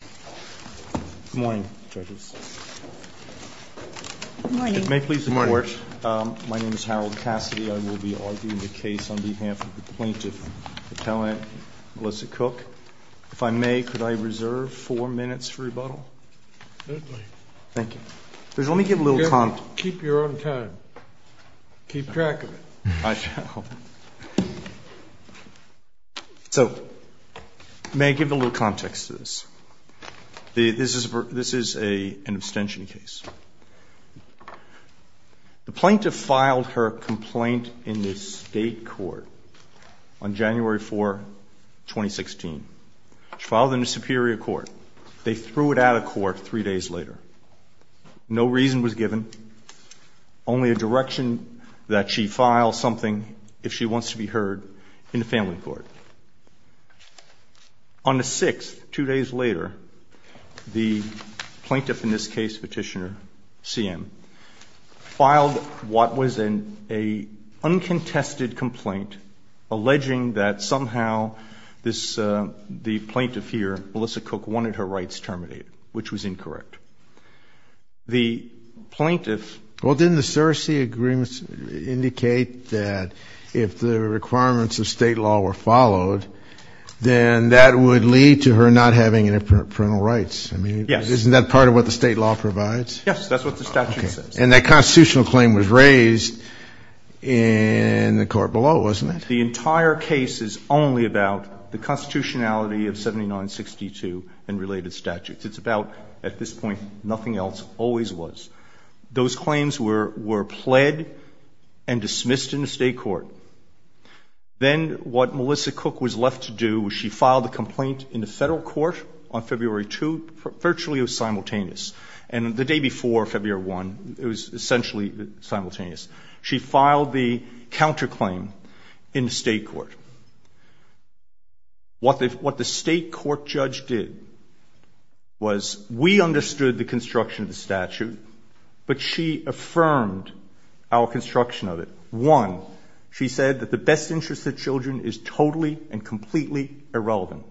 Good morning, judges. Good morning. If it may please the Court, my name is Harold Cassidy. I will be arguing the case on behalf of the plaintiff, Appellant Melissa Cook. If I may, could I reserve four minutes for rebuttal? Certainly. Thank you. Let me give a little context. Keep your own time. Keep track of it. I shall. So may I give a little context to this? This is an abstention case. The plaintiff filed her complaint in the state court on January 4, 2016. She filed it in the Superior Court. They threw it out of court three days later. No reason was given. Only a direction that she file something if she wants to be heard in the family court. On the 6th, two days later, the plaintiff in this case, Petitioner Siem, filed what was an uncontested complaint alleging that somehow the plaintiff here, Melissa Cook, wanted her rights terminated, which was incorrect. The plaintiff ---- Well, didn't the Searcy agreements indicate that if the requirements of State law were followed, then that would lead to her not having any parental rights? Yes. Isn't that part of what the State law provides? Yes, that's what the statute says. And that constitutional claim was raised in the court below, wasn't it? The entire case is only about the constitutionality of 7962 and related statutes. It's about, at this point, nothing else, always was. Those claims were pled and dismissed in the state court. Then what Melissa Cook was left to do was she filed a complaint in the federal court on February 2. Virtually it was simultaneous. And the day before, February 1, it was essentially simultaneous. She filed the counterclaim in the state court. What the state court judge did was we understood the construction of the statute, but she affirmed our construction of it. One, she said that the best interest of children is totally and completely irrelevant.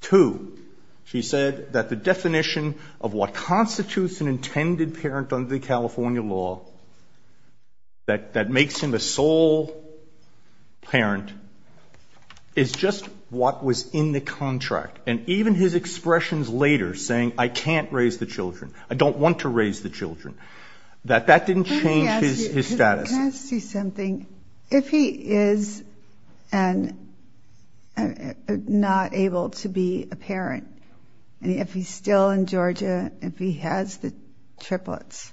Two, she said that the definition of what constitutes an intended parent under the California law, that makes him a sole parent, is just what was in the contract. And even his expressions later saying, I can't raise the children, I don't want to raise the children, that that didn't change his status. Let me ask you something. If he is not able to be a parent, if he's still in Georgia, if he has the triplets,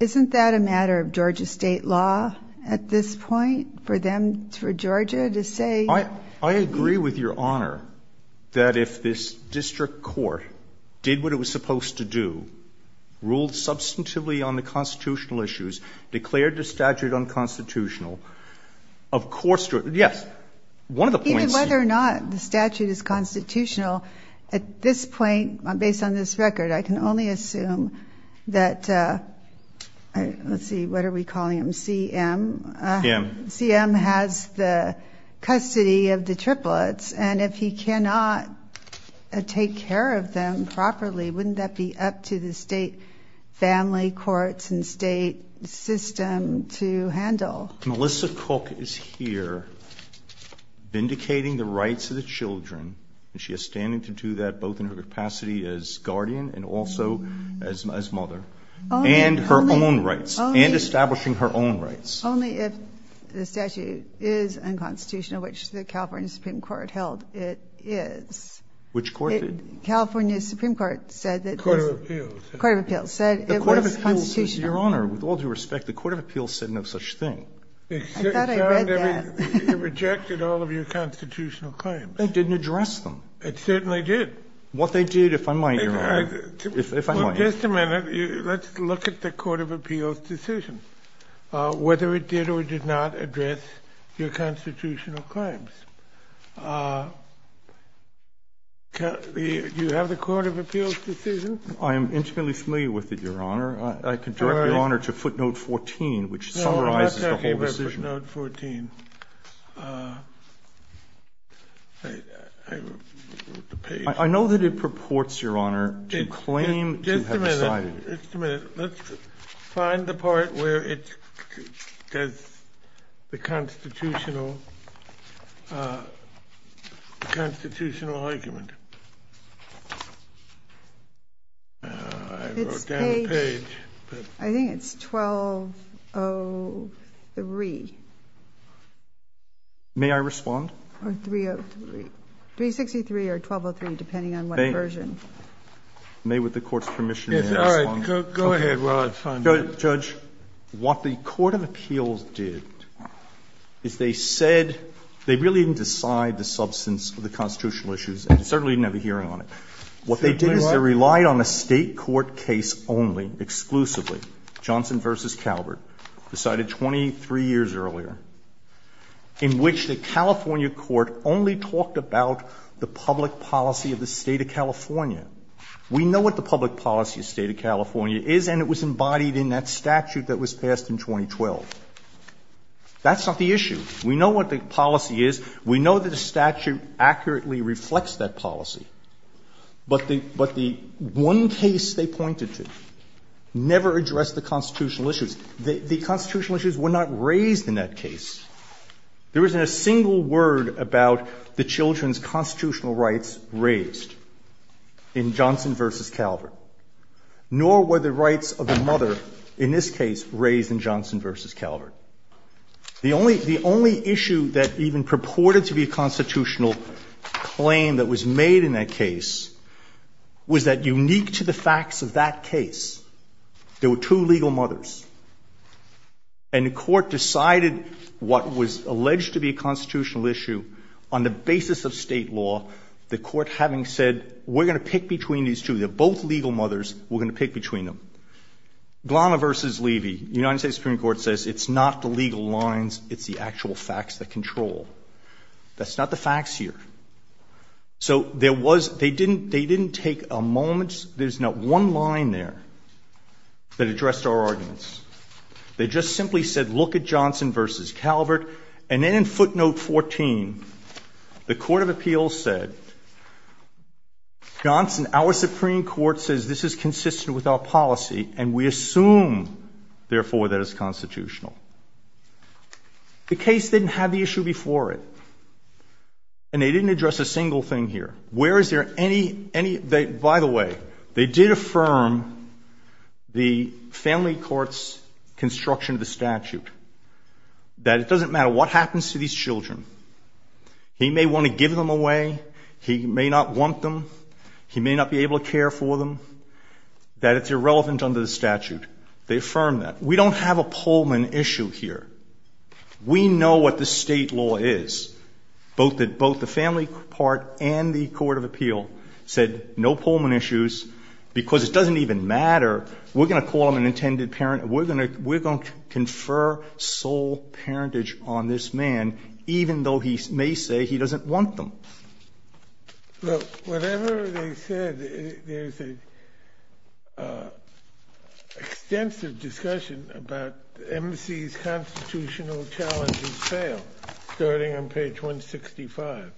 isn't that a matter of Georgia state law at this point for them, for Georgia to say? I agree with Your Honor that if this district court did what it was supposed to do, ruled substantively on the constitutional issues, declared the statute unconstitutional, of course, yes, one of the points. Even whether or not the statute is constitutional, at this point, based on this record, I can only assume that, let's see, what are we calling him, CM? CM. CM has the custody of the triplets, and if he cannot take care of them properly, wouldn't that be up to the state family courts and state system to handle? Melissa Cook is here vindicating the rights of the children, and she is standing to do that both in her capacity as guardian and also as mother, and her own rights, and establishing her own rights. Only if the statute is unconstitutional, which the California Supreme Court held it is. Which court did? California Supreme Court said that it was constitutional. Your Honor, with all due respect, the court of appeals said no such thing. I thought I read that. It rejected all of your constitutional claims. It didn't address them. It certainly did. What they did, if I might, Your Honor, if I might. Just a minute. Let's look at the court of appeals' decision, whether it did or did not address your constitutional claims. Do you have the court of appeals' decision? I am intimately familiar with it, Your Honor. I can direct Your Honor to footnote 14, which summarizes the whole decision. No, I'm not talking about footnote 14. I wrote the page. I know that it purports, Your Honor, to claim to have decided it. Just a minute. Let's find the part where it says the constitutional argument. I wrote down the page. I think it's 1203. May I respond? Or 303. 363 or 1203, depending on what version. May, with the Court's permission, may I respond? Yes. All right. Go ahead while I find it. Judge, what the court of appeals did is they said they really didn't decide the substance of the constitutional issues and certainly didn't have a hearing on it. What they did is they relied on a State court case only, exclusively, Johnson v. Calvert, decided 23 years earlier, in which the California court only talked about the public policy of the State of California. We know what the public policy of the State of California is and it was embodied in that statute that was passed in 2012. That's not the issue. We know what the policy is. We know that the statute accurately reflects that policy. But the one case they pointed to never addressed the constitutional issues. The constitutional issues were not raised in that case. There isn't a single word about the children's constitutional rights raised in Johnson v. Calvert, nor were the rights of the mother in this case raised in Johnson v. Calvert. The only issue that even purported to be a constitutional claim that was made in that case was that, unique to the facts of that case, there were two legal mothers. And the Court decided what was alleged to be a constitutional issue on the basis of State law, the Court having said we're going to pick between these two. They're both legal mothers. We're going to pick between them. Glana v. Levy, the United States Supreme Court says it's not the legal lines, it's the actual facts that control. That's not the facts here. So there was they didn't take a moment. There's not one line there that addressed our arguments. They just simply said look at Johnson v. Calvert. And then in footnote 14, the Court of Appeals said, Johnson, our Supreme Court says this is consistent with our policy and we assume, therefore, that it's constitutional. The case didn't have the issue before it. And they didn't address a single thing here. Where is there any, by the way, they did affirm the family court's construction of the statute that it doesn't matter what happens to these children. He may want to give them away. He may not want them. He may not be able to care for them. They assume that it's irrelevant under the statute. They affirm that. We don't have a Pullman issue here. We know what the State law is. Both the family part and the Court of Appeal said no Pullman issues because it doesn't even matter. We're going to call him an intended parent. We're going to confer sole parentage on this man, even though he may say he doesn't want them. Well, whatever they said, there's an extensive discussion about the embassy's constitutional challenges fail, starting on page 165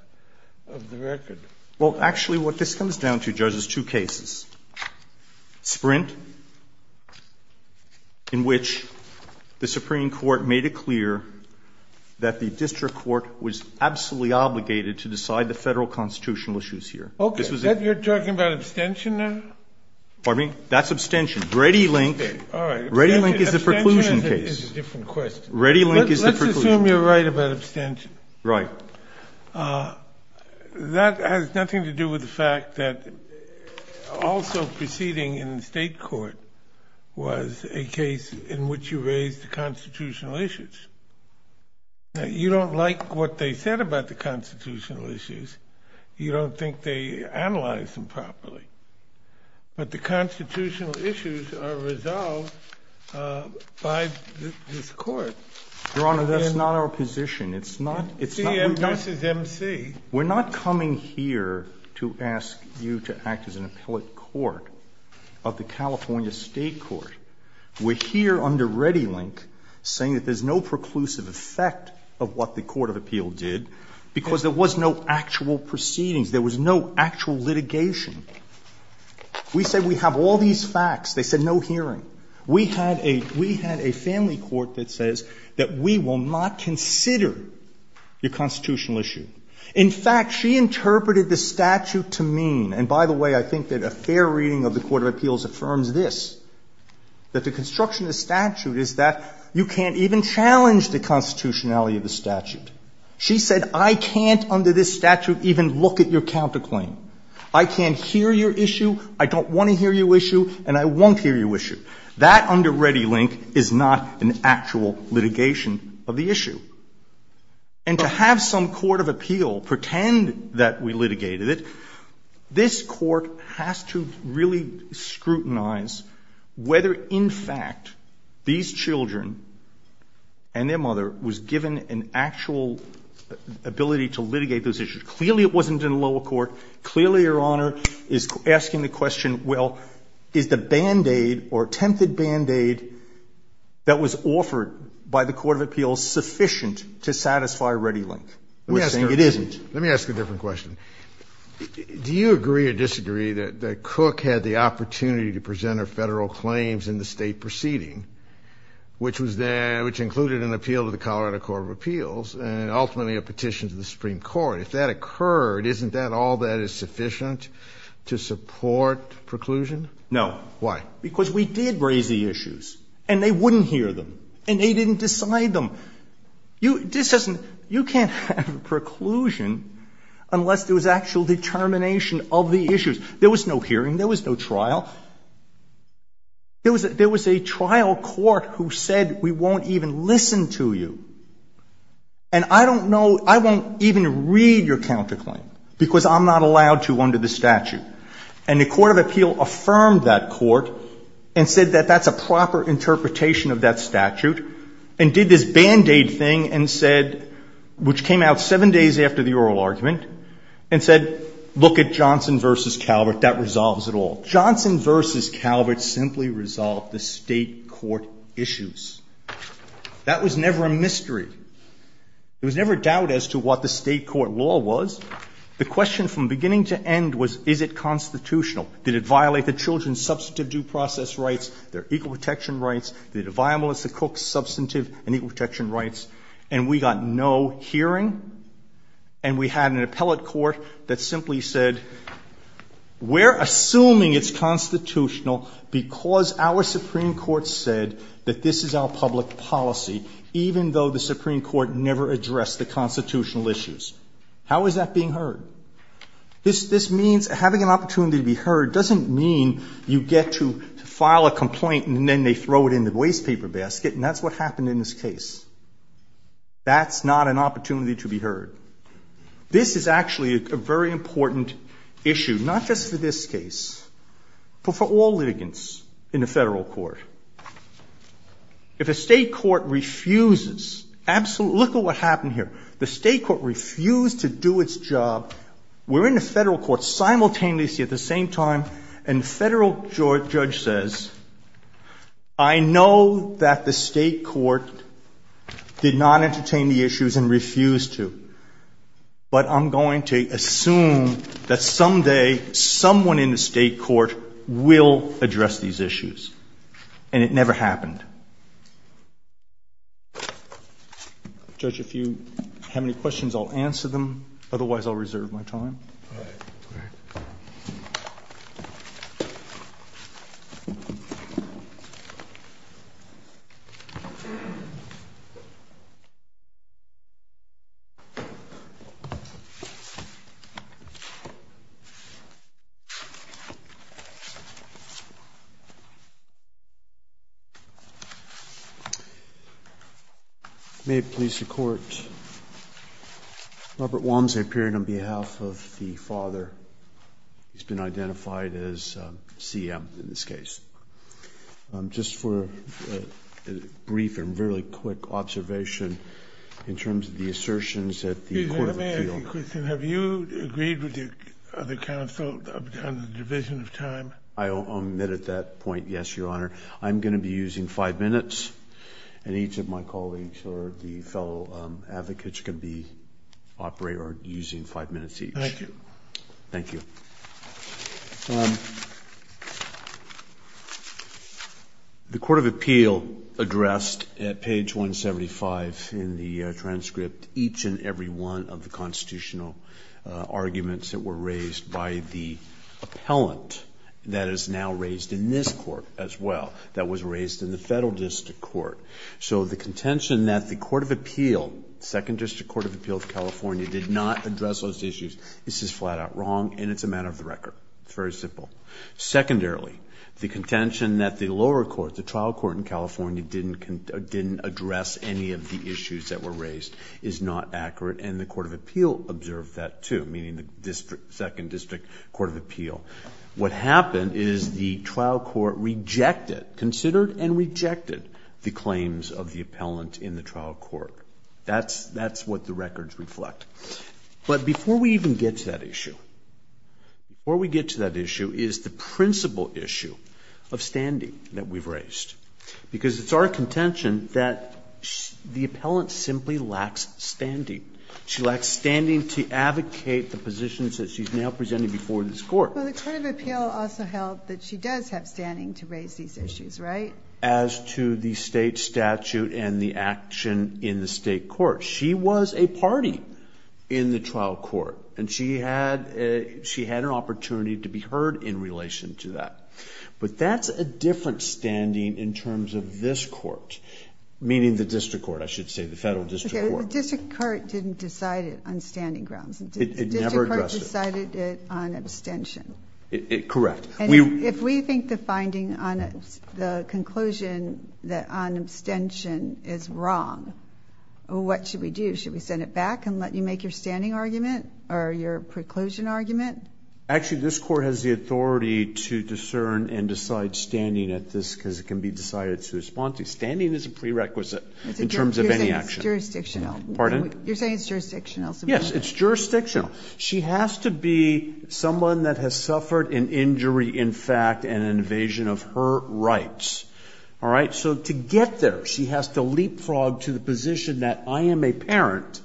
of the record. Well, actually, what this comes down to, Judge, is two cases. Sprint, in which the Supreme Court made it clear that the district court was absolutely obligated to decide the federal constitutional issues here. Okay. You're talking about abstention now? Pardon me? That's abstention. Ready link. All right. Ready link is a preclusion case. Abstention is a different question. Ready link is a preclusion. Let's assume you're right about abstention. Right. That has nothing to do with the fact that also proceeding in the State court was a case in which you raised the constitutional issues. Now, you don't like what they said about the constitutional issues. You don't think they analyzed them properly. But the constitutional issues are resolved by this court. Your Honor, that's not our position. It's not. This is MC. We're not coming here to ask you to act as an appellate court of the California State court. We're here under ready link saying that there's no preclusive effect of what the court of appeal did because there was no actual proceedings. There was no actual litigation. We say we have all these facts. They said no hearing. We had a family court that says that we will not consider your constitutional issue. In fact, she interpreted the statute to mean, and by the way, I think that a fair reading of the court of appeals affirms this, that the construction of the statute is that you can't even challenge the constitutionality of the statute. She said I can't under this statute even look at your counterclaim. I can't hear your issue. I don't want to hear your issue, and I won't hear your issue. That under ready link is not an actual litigation of the issue. And to have some court of appeal pretend that we litigated it, this court has to really scrutinize whether in fact these children and their mother was given an actual ability to litigate those issues. Clearly it wasn't in lower court. Clearly Your Honor is asking the question, well, is the band-aid or attempted band-aid that was offered by the court of appeals sufficient to satisfy ready link? It isn't. Let me ask a different question. Do you agree or disagree that Cook had the opportunity to present her federal claims in the state proceeding, which included an appeal to the Colorado Court of Appeals and ultimately a petition to the Supreme Court? If that occurred, isn't that all that is sufficient to support preclusion? No. Why? Because we did raise the issues. And they wouldn't hear them. And they didn't decide them. You can't have a preclusion unless there was actual determination of the issues. There was no hearing. There was no trial. There was a trial court who said we won't even listen to you. And I don't know, I won't even read your counterclaim because I'm not allowed to under the statute. And the court of appeal affirmed that court and said that that's a proper interpretation of that statute and did this band-aid thing and said, which came out seven days after the oral argument, and said, look at Johnson v. Calvert. That resolves it all. Johnson v. Calvert simply resolved the state court issues. That was never a mystery. There was never a doubt as to what the state court law was. The question from beginning to end was, is it constitutional? Did it violate the children's substantive due process rights, their equal protection rights? Did it violate Melissa Cook's substantive and equal protection rights? And we got no hearing. And we had an appellate court that simply said, we're assuming it's constitutional because our Supreme Court said that this is our public policy, even though the Supreme Court never addressed the constitutional issues. How is that being heard? This means having an opportunity to be heard doesn't mean you get to file a complaint and then they throw it in the waste paper basket, and that's what happened in this case. That's not an opportunity to be heard. This is actually a very important issue, not just for this case, but for all litigants in a Federal court. If a state court refuses absolute – look at what happened here. The state court refused to do its job. We're in a Federal court simultaneously at the same time, and the Federal judge says, I know that the state court did not entertain the issues and refused to, but I'm going to assume that someday someone in the state court will address these issues. And it never happened. Judge, if you have any questions, I'll answer them. Otherwise, I'll reserve my time. All right. May it please the Court, Robert Walmsley appeared on behalf of the father. He's been identified as CM in this case. Just for a brief and really quick observation in terms of the assertions at the court of appeal. Excuse me. May I ask a question? Have you agreed with the other counsel on the division of time? I omit at that point, yes, Your Honor. I'm going to be using five minutes, and each of my colleagues or the fellow advocates can be operating or using five minutes each. Thank you. Thank you. The court of appeal addressed at page 175 in the transcript each and every one of the constitutional arguments that were raised by the appellant that is now raised in this court as well, that was raised in the federal district court. So the contention that the court of appeal, second district court of appeal of California did not address those issues, this is flat out wrong, and it's a matter of the record. It's very simple. Secondarily, the contention that the lower court, the trial court in California didn't address any of the issues that were raised is not accurate, and the court of appeal observed that too, meaning the district, second district court of appeal. What happened is the trial court rejected, considered and rejected the claims of the appellant in the trial court. That's what the records reflect. But before we even get to that issue, before we get to that issue is the principal issue of standing that we've raised, because it's our contention that the appellant simply lacks standing. She lacks standing to advocate the positions that she's now presenting before this court. But the court of appeal also held that she does have standing to raise these issues, right? As to the state statute and the action in the state court. She was a party in the trial court, and she had an opportunity to be heard in relation to that. But that's a different standing in terms of this court, meaning the district court, I should say, the federal district court. The district court didn't decide it on standing grounds. It never addressed it. It decided it on abstention. Correct. If we think the finding on the conclusion that on abstention is wrong, what should we do? Should we send it back and let you make your standing argument or your preclusion argument? Actually, this court has the authority to discern and decide standing at this, because it can be decided to respond to. Standing is a prerequisite in terms of any action. It's jurisdictional. Pardon? You're saying it's jurisdictional. Yes, it's jurisdictional. She has to be someone that has suffered an injury, in fact, and an invasion of her rights. All right? So to get there, she has to leapfrog to the position that I am a parent,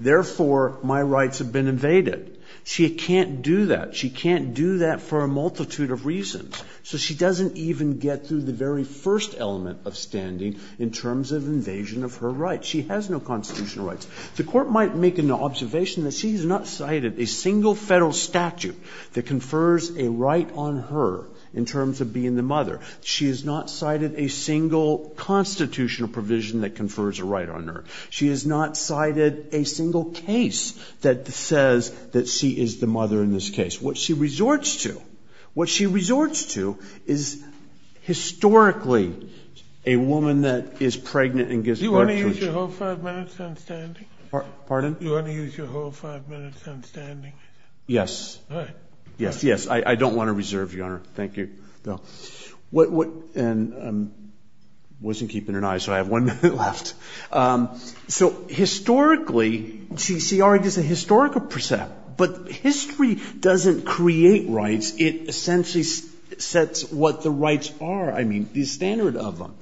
therefore my rights have been invaded. She can't do that. She can't do that for a multitude of reasons. So she doesn't even get through the very first element of standing in terms of invasion of her rights. She has no constitutional rights. The Court might make an observation that she has not cited a single Federal statute that confers a right on her in terms of being the mother. She has not cited a single constitutional provision that confers a right on her. She has not cited a single case that says that she is the mother in this case. What she resorts to, what she resorts to is historically a woman that is pregnant and gives birth to a child. Do you want to use your whole five minutes on standing? Pardon? Do you want to use your whole five minutes on standing? Yes. All right. Yes, yes. I don't want to reserve, Your Honor. Thank you. And I wasn't keeping an eye, so I have one minute left. So historically, CCRI does a historical precept, but history doesn't create rights. It essentially sets what the rights are. I mean, the standard of them.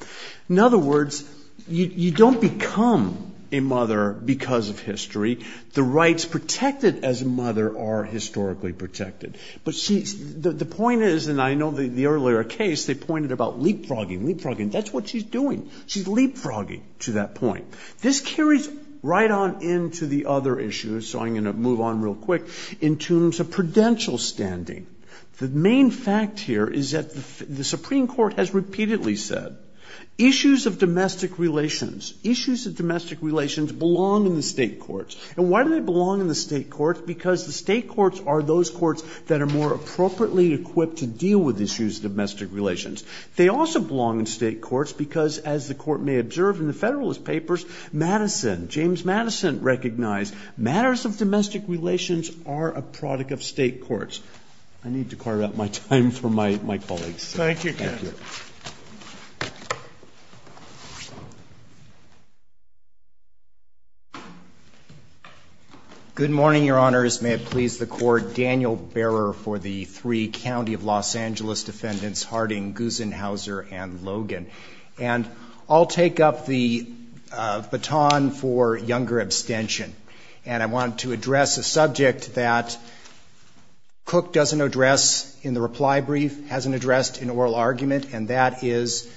In other words, you don't become a mother because of history. The rights protected as a mother are historically protected. But the point is, and I know the earlier case, they pointed about leapfrogging, leapfrogging. That's what she's doing. She's leapfrogging to that point. This carries right on into the other issues, so I'm going to move on real quick, in terms of prudential standing. The main fact here is that the Supreme Court has repeatedly said issues of domestic relations, issues of domestic relations belong in the state courts. And why do they belong in the state courts? Because the state courts are those courts that are more appropriately equipped to deal with issues of domestic relations. They also belong in state courts because, as the Court may observe in the Federalist Papers, Madison, James Madison recognized matters of domestic relations are a product of state courts. I need to carve out my time for my colleagues. Thank you. Good morning, Your Honors. May it please the Court. Daniel Bearer for the three County of Los Angeles defendants, Harding, Gusenhauser and Logan. And I'll take up the baton for younger abstention. And I want to address a subject that Cook doesn't address in the reply brief, hasn't addressed in oral argument, and that is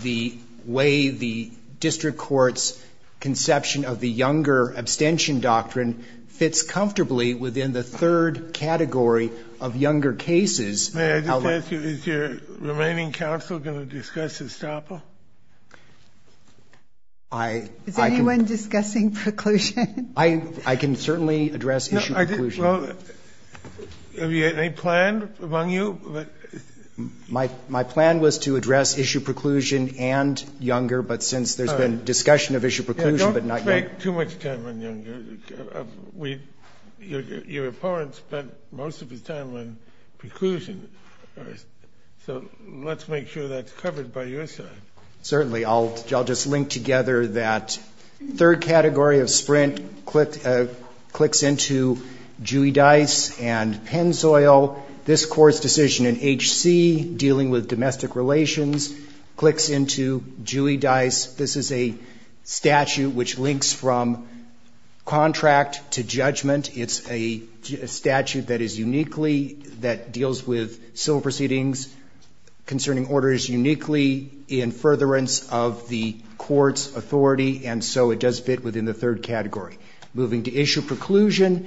the way the district court's conception of the younger abstention doctrine fits comfortably within the third category of younger cases. May I just ask you, is your remaining counsel going to discuss Estapa? Is anyone discussing preclusion? I can certainly address issue preclusion. Have you had any plan among you? My plan was to address issue preclusion and younger, but since there's been discussion of issue preclusion, but not younger. Don't take too much time on younger. Your opponent spent most of his time on preclusion. So let's make sure that's covered by your side. Certainly. I'll just link together that third category of Sprint clicks into Dewey Dice and Penn Soil. This Court's decision in H.C. dealing with domestic relations clicks into Dewey Dice. This is a statute which links from contract to judgment. It's a statute that is uniquely, that deals with civil proceedings concerning orders uniquely in furtherance of the Court's authority, and so it does fit within the third category. Moving to issue preclusion.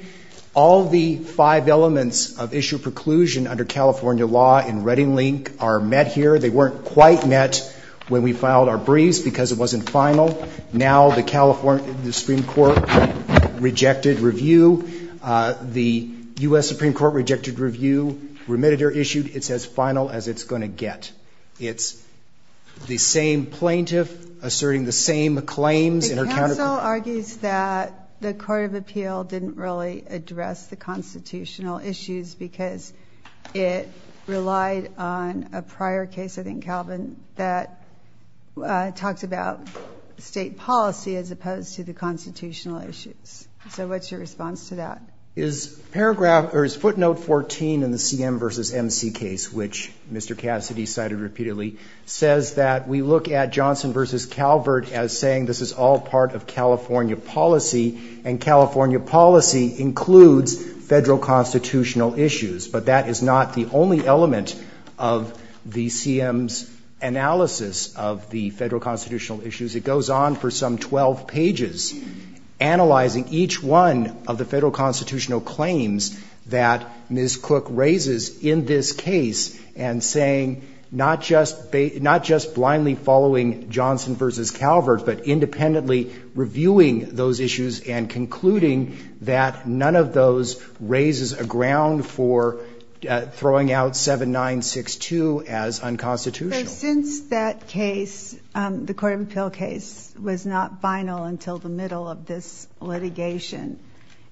All the five elements of issue preclusion under California law in Redding-Link are met here. They weren't quite met when we filed our briefs because it wasn't final. Now the Supreme Court rejected review. The U.S. Supreme Court rejected review. Remitted or issued, it's as final as it's going to get. It's the same plaintiff asserting the same claims. The counsel argues that the Court of Appeal didn't really address the constitutional issues because it relied on a prior case, I think, Calvin, that talked about state policy as opposed to the constitutional issues. So what's your response to that? Is paragraph or is footnote 14 in the C.M. v. M.C. case, which Mr. Cassidy cited repeatedly, says that we look at Johnson v. Calvert as saying this is all part of California policy and California policy includes Federal constitutional issues, but that is not the only element of the C.M.'s analysis of the Federal constitutional issues. It goes on for some 12 pages analyzing each one of the Federal constitutional claims that Ms. Cook raises in this case and saying not just blindly following Johnson v. Calvert, but independently reviewing those issues and concluding that none of those raises a ground for throwing out 7962 as unconstitutional. So since that case, the Court of Appeal case, was not final until the middle of this litigation,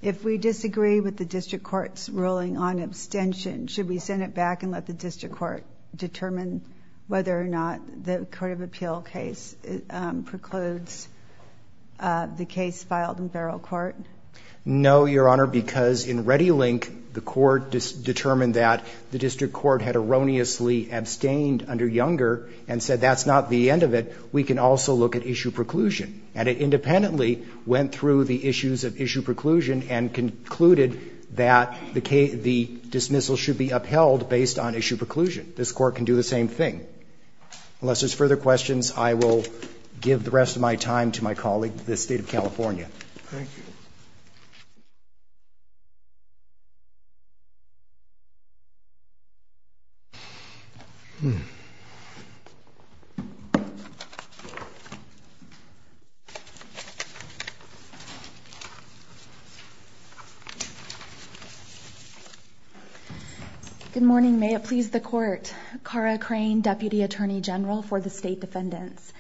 if we disagree with the district court's ruling on abstention, should we send it back and let the district court determine whether or not the Court of Appeal case precludes the case filed in federal court? No, Your Honor, because in Reddilink, the court determined that the district court had erroneously abstained under Younger and said that's not the end of it, we can also look at issue preclusion. And it independently went through the issues of issue preclusion and concluded that the dismissal should be upheld based on issue preclusion. This Court can do the same thing. Unless there's further questions, I will give the rest of my time to my colleague, the State of California. Thank you. Good morning. May it please the Court. Cara Crane, Deputy Attorney General for the State Defendants.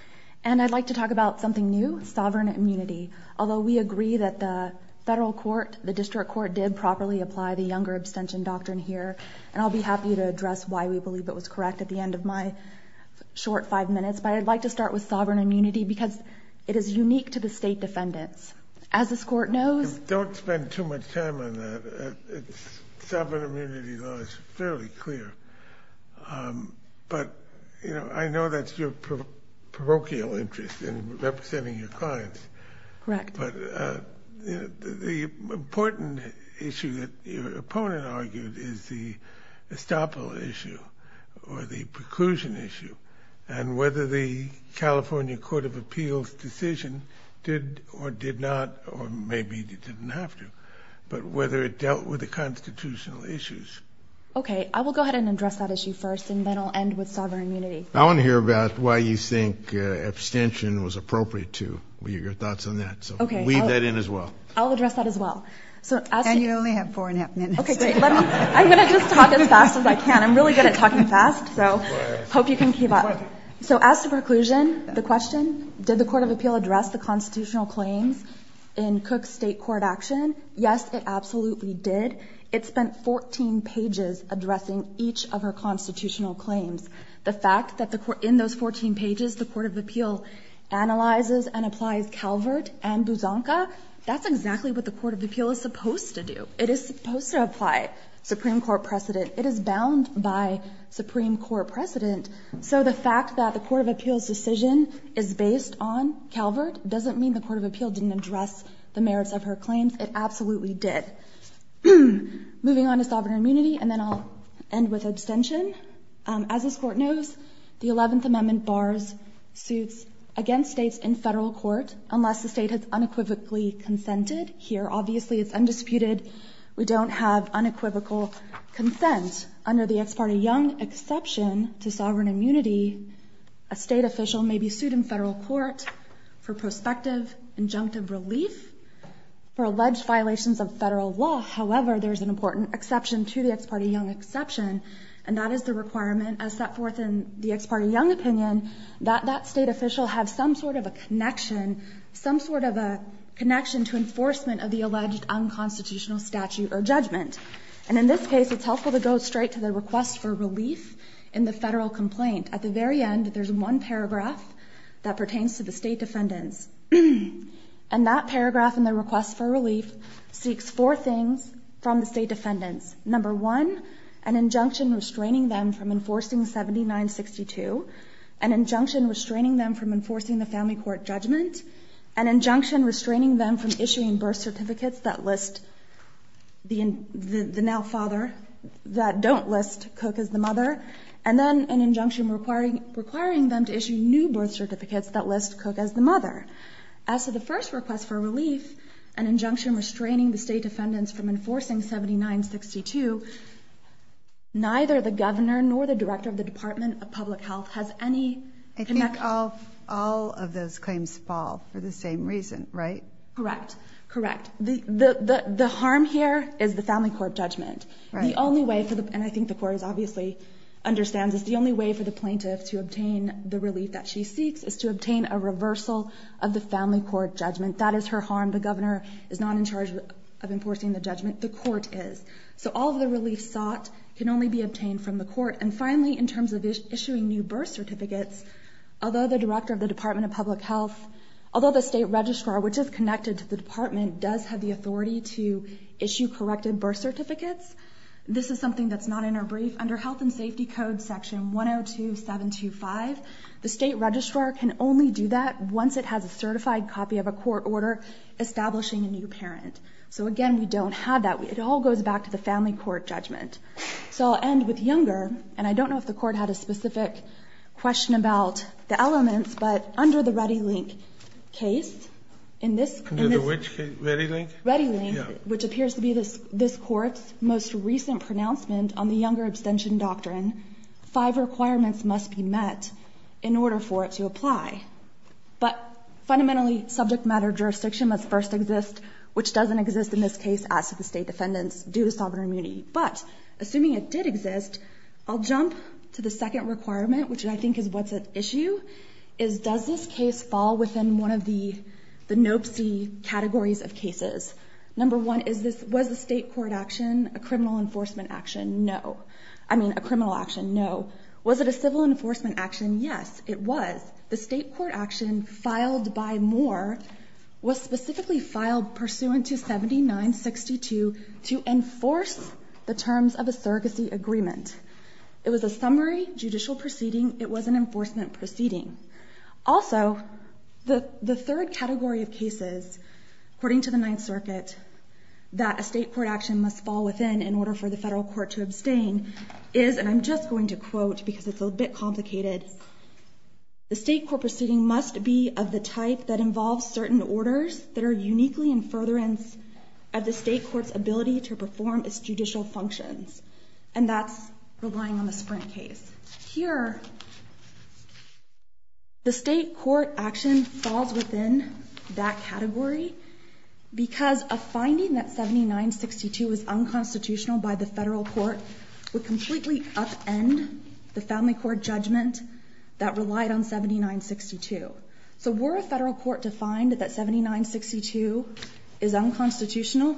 And I'd like to talk about something new, sovereign immunity. Although we agree that the federal court, the district court, did properly apply the Younger abstention doctrine here, and I'll be happy to address why we believe it was correct at the end of my short five minutes. But I'd like to start with sovereign immunity because it is unique to the State Defendants. As this Court knows... Don't spend too much time on that. Sovereign immunity law is fairly clear. But I know that's your parochial interest in representing your clients. Correct. But the important issue that your opponent argued is the estoppel issue or the preclusion issue. And whether the California Court of Appeals decision did or did not, or maybe it didn't have to, but whether it dealt with the constitutional issues. Okay, I will go ahead and address that issue first, and then I'll end with sovereign immunity. I want to hear about why you think abstention was appropriate to, your thoughts on that. Okay. So weave that in as well. I'll address that as well. And you only have four and a half minutes. Okay, great. I'm going to just talk as fast as I can. I'm really good at talking fast, so I hope you can keep up. So as to preclusion, the question, did the Court of Appeal address the constitutional claims in Cook State court action? Yes, it absolutely did. It spent 14 pages addressing each of her constitutional claims. The fact that in those 14 pages, the Court of Appeal analyzes and applies Calvert and Buzanka, that's exactly what the Court of Appeal is supposed to do. It is supposed to apply Supreme Court precedent. It is bound by Supreme Court precedent. So the fact that the Court of Appeal's decision is based on Calvert doesn't mean the Court of Appeal didn't address the merits of her claims. It absolutely did. Moving on to sovereign immunity, and then I'll end with abstention. As this Court knows, the 11th Amendment bars suits against states in federal court unless the state has unequivocally consented. Here, obviously, it's undisputed. We don't have unequivocal consent. Under the ex parte Young exception to sovereign immunity, a state official may be sued in federal court for prospective injunctive relief for alleged violations of federal law. However, there's an important exception to the ex parte Young exception, and that is the requirement as set forth in the ex parte Young opinion, that that state official have some sort of a connection, some sort of a connection to enforcement of the alleged unconstitutional statute or judgment. And in this case, it's helpful to go straight to the request for relief in the federal complaint. At the very end, there's one paragraph that pertains to the state defendants, and that paragraph in the request for relief seeks four things from the state defendants. Number one, an injunction restraining them from enforcing 7962, an injunction restraining them from enforcing the family court judgment, an injunction restraining them from issuing birth certificates that list the now father, that don't list Cook as the mother, and then an injunction requiring them to issue new birth certificates that list Cook as the mother. As to the first request for relief, an injunction restraining the state defendants from enforcing 7962, neither the governor nor the director of the department of public health has any. I think all, all of those claims fall for the same reason, right? Correct. Correct. The, the, the, the harm here is the family court judgment. The only way for the, and I think the court is obviously understands is the only way for the reversal of the family court judgment. That is her harm. The governor is not in charge of enforcing the judgment. The court is. So all of the relief sought can only be obtained from the court. And finally, in terms of issuing new birth certificates, although the director of the department of public health, although the state registrar, which is connected to the department does have the authority to issue corrected birth certificates. This is something that's not in our brief under health and safety code section 102725. The state registrar can only do that once it has a certified copy of a court order, establishing a new parent. So again, we don't have that. It all goes back to the family court judgment. So I'll end with younger. And I don't know if the court had a specific question about the elements, but under the ready link case in this, which appears to be this, this court's most recent pronouncement on the younger abstention doctrine, five requirements must be met in order for it to apply, but fundamentally subject matter. Jurisdiction must first exist, which doesn't exist in this case as to the state defendants due to sovereign immunity, but assuming it did exist, I'll jump to the second requirement, which I think is what's at issue is does this case fall within one of the, the Nope. See categories of cases. Number one is this was the state court action, a criminal enforcement action. No, I mean a criminal action. No. Was it a civil enforcement action? Yes, it was the state court action filed by more was specifically filed pursuant to 79, 62 to enforce the terms of a surrogacy agreement. It was a summary judicial proceeding. It was an enforcement proceeding. Also the third category of cases, according to the ninth circuit, that a state court action must fall within in order for the federal court to And I'm just going to quote because it's a bit complicated. The state court proceeding must be of the type that involves certain orders that are uniquely in furtherance of the state court's ability to perform its judicial functions. And that's relying on the sprint case here. The state court action falls within that category because a finding that the federal court would completely up end the family court judgment that relied on 79, 62. So we're a federal court to find that that 79, 62 is unconstitutional.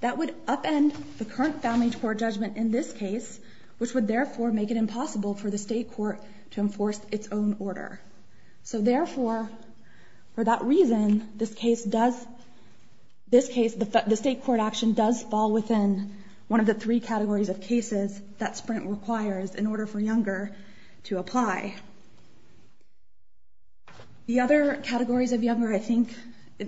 That would upend the current family court judgment in this case, which would therefore make it impossible for the state court to enforce its own order. So therefore, for that reason, this case does this case, the state court action does fall within one of the three categories of cases that sprint requires in order for Younger to apply. The other categories of Younger, I think,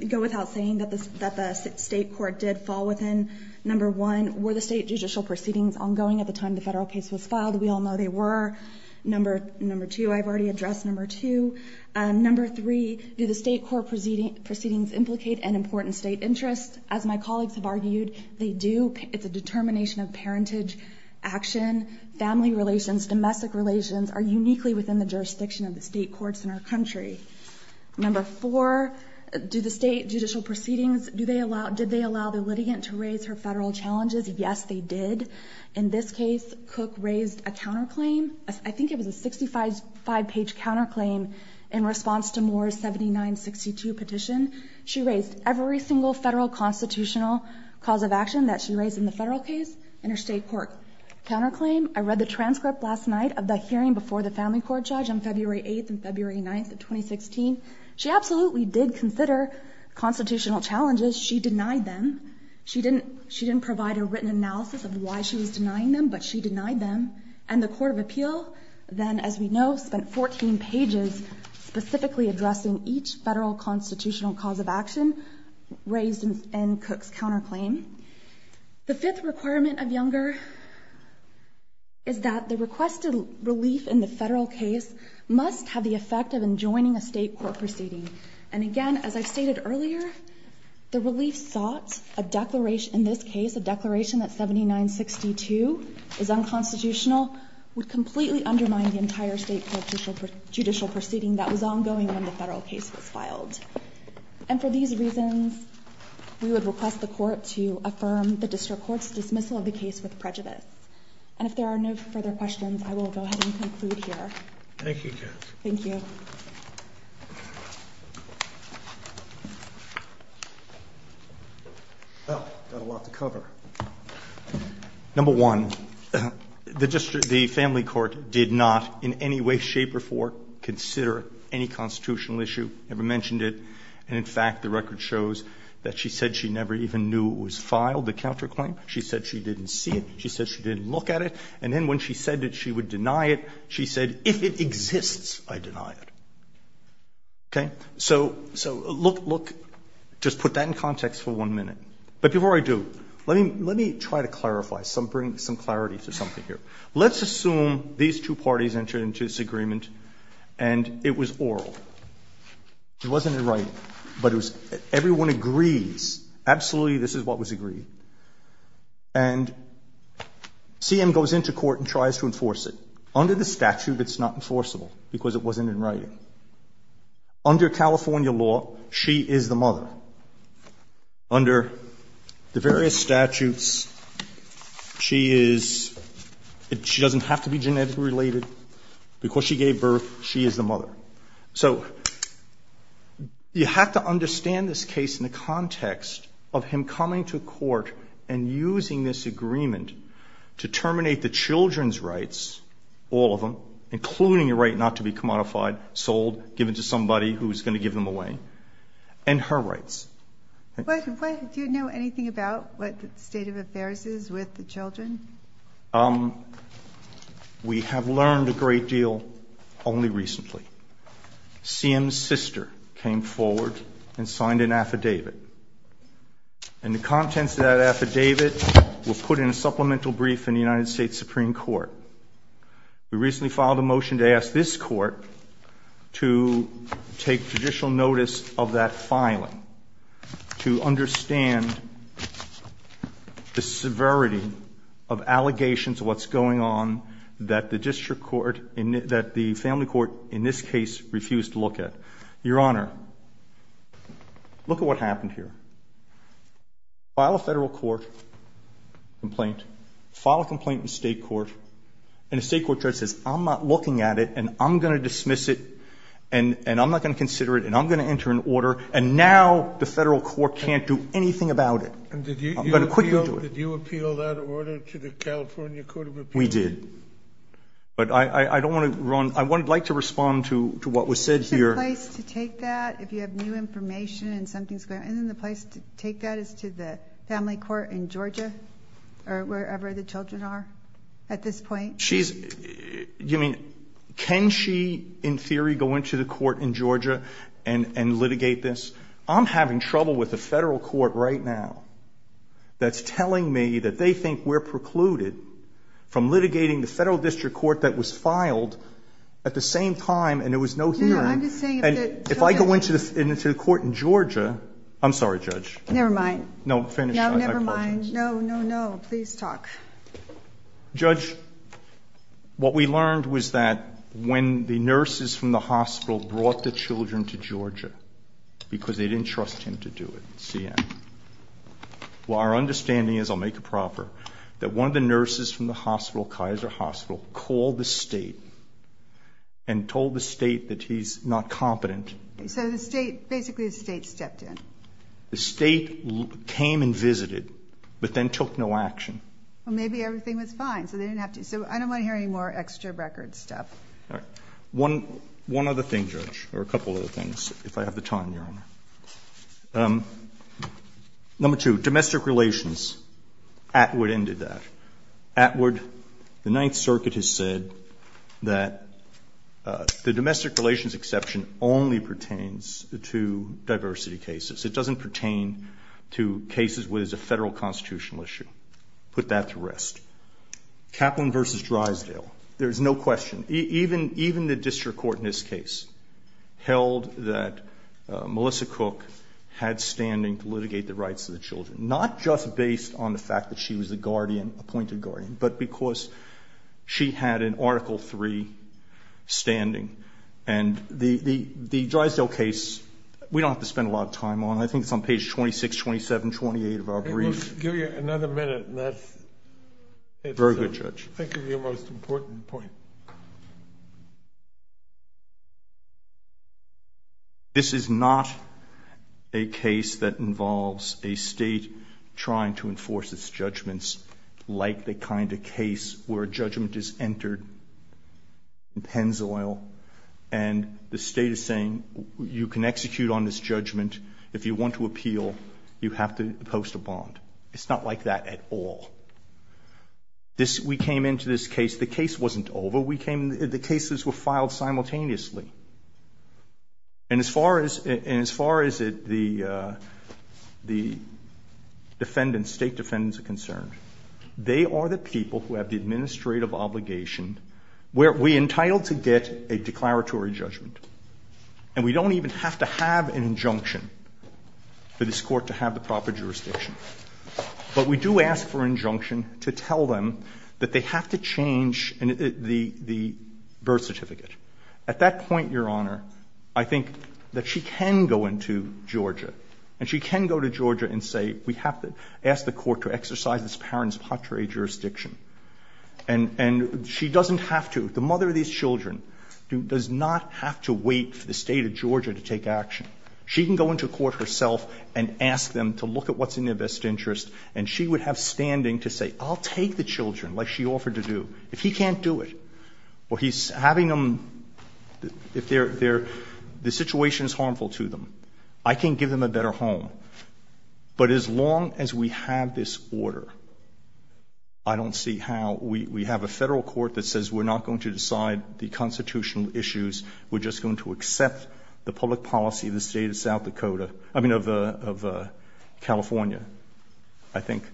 go without saying that the state court did fall within. Number one, were the state judicial proceedings ongoing at the time the federal case was filed? We all know they were. Number two, I've already addressed number two. Number three, do the state court proceedings implicate an important state interest? As my colleagues have argued, they do. It's a determination of parentage action. Family relations, domestic relations are uniquely within the jurisdiction of the state courts in our country. Number four, do the state judicial proceedings, did they allow the litigant to raise her federal challenges? Yes, they did. In this case, Cook raised a counterclaim. I think it was a 65-page counterclaim in response to Moore's 79-62 petition. She raised every single federal constitutional cause of action that she raised in the federal case in her state court counterclaim. I read the transcript last night of the hearing before the family court judge on February 8th and February 9th of 2016. She absolutely did consider constitutional challenges. She denied them. She didn't provide a written analysis of why she was denying them, but she denied them. And the court of appeal then, as we know, spent 14 pages specifically addressing each federal constitutional cause of action raised in Cook's counterclaim. The fifth requirement of Younger is that the requested relief in the federal case must have the effect of enjoining a state court proceeding. And again, as I stated earlier, the relief sought a declaration, in this case, a declaration that 79-62 is unconstitutional, would completely undermine the entire state judicial proceeding that was ongoing when the federal case was filed. And for these reasons, we would request the court to affirm the district court's dismissal of the case with prejudice. And if there are no further questions, I will go ahead and conclude here. Thank you, Jess. Thank you. Well, I've got a lot to cover. Number one, the family court did not in any way, shape or form consider any constitutional issue, never mentioned it. And in fact, the record shows that she said she never even knew it was filed, the counterclaim. She said she didn't see it. She said she didn't look at it. And then when she said that she would deny it, she said, if it exists, I deny it. Okay? So, look, just put that in context for one minute. But before I do, let me try to clarify, bring some clarity to something here. Let's assume these two parties entered into this agreement, and it was oral. It wasn't in writing, but everyone agrees, absolutely this is what was agreed. And CM goes into court and tries to enforce it. Under the statute, it's not enforceable, because it wasn't in writing. Under California law, she is the mother. Under the various statutes, she is, she doesn't have to be genetically related. Because she gave birth, she is the mother. So you have to understand this case in the context of him coming to court and using this agreement to terminate the children's rights, all of them, including the right not to be commodified, sold, given to somebody who is going to give them away, and her rights. Do you know anything about what the state of affairs is with the children? We have learned a great deal only recently. CM's sister came forward and signed an affidavit. And the contents of that affidavit were put in a supplemental brief in the United States Supreme Court. We recently filed a motion to ask this court to take judicial notice of that filing, to understand the severity of allegations of what's going on that the district court, that the family court in this case refused to look at. Your Honor, look at what happened here. File a federal court complaint, file a complaint in state court, and a state court judge says, I'm not looking at it, and I'm going to dismiss it, and I'm not going to consider it, and I'm going to enter an order, and now the federal court can't do anything about it. And did you appeal that order to the California Court of Appeals? We did. But I don't want to run, I would like to respond to what was said here. Is there a place to take that if you have new information and something's going on? Isn't there a place to take that as to the family court in Georgia or wherever the children are at this point? She's, you mean, can she in theory go into the court in Georgia and litigate this? I'm having trouble with the federal court right now that's telling me that they think we're precluded from litigating the federal district court that was filed at the same time and there was no hearing. No, I'm just saying. And if I go into the court in Georgia, I'm sorry, Judge. Never mind. No, finish. No, never mind. No, no, no, please talk. Judge, what we learned was that when the nurses from the hospital brought the children to Georgia because they didn't trust him to do it, see, well, our understanding is, I'll make it proper, that one of the nurses from the hospital, Kaiser Hospital, called the state and told the state that he's not competent. So the state, basically the state stepped in. The state came and visited but then took no action. Well, maybe everything was fine so they didn't have to. So I don't want to hear any more extra record stuff. All right. One other thing, Judge, or a couple other things, if I have the time, Your Honor. Number two, domestic relations. Atwood ended that. Atwood, the Ninth Circuit has said that the domestic relations exception only pertains to diversity cases. It doesn't pertain to cases where there's a federal constitutional issue. Put that to rest. Kaplan v. Drysdale, there's no question. Even the district court in this case held that Melissa Cook had standing to litigate the rights of the children, not just based on the fact that she was the guardian, appointed guardian, but because she had an Article III standing. And the Drysdale case, we don't have to spend a lot of time on it. I think it's on page 26, 27, 28 of our brief. Give you another minute. Very good, Judge. Thank you. Your most important point. This is not a case that involves a state trying to enforce its judgments, like the kind of case where a judgment is entered in Pennzoil, and the state is saying you can execute on this judgment. If you want to appeal, you have to post a bond. It's not like that at all. We came into this case, the case wasn't over. The cases were filed simultaneously. And as far as the state defendants are concerned, they are the people who have the administrative obligation. We're entitled to get a declaratory judgment, and we don't even have to have an injunction for this court to have the proper jurisdiction. But we do ask for an injunction to tell them that they have to change the birth certificate. At that point, Your Honor, I think that she can go into Georgia, and she can go to Georgia and say we have to ask the court to exercise this parent's patria jurisdiction. And she doesn't have to. The mother of these children does not have to wait for the State of Georgia to take action. She can go into court herself and ask them to look at what's in their best interest, and she would have standing to say I'll take the children like she offered to do. If he can't do it, well, he's having them, if they're, the situation is harmful to them. I can give them a better home. But as long as we have this order, I don't see how we have a Federal court that says we're not going to decide the constitutional issues, we're just going to accept the public policy of the State of South Dakota, I mean of California. I think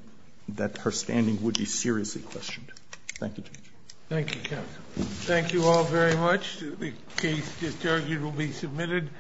that her standing would be seriously questioned. Thank you, Judge. Thank you, counsel. Thank you all very much. The case, as argued, will be submitted.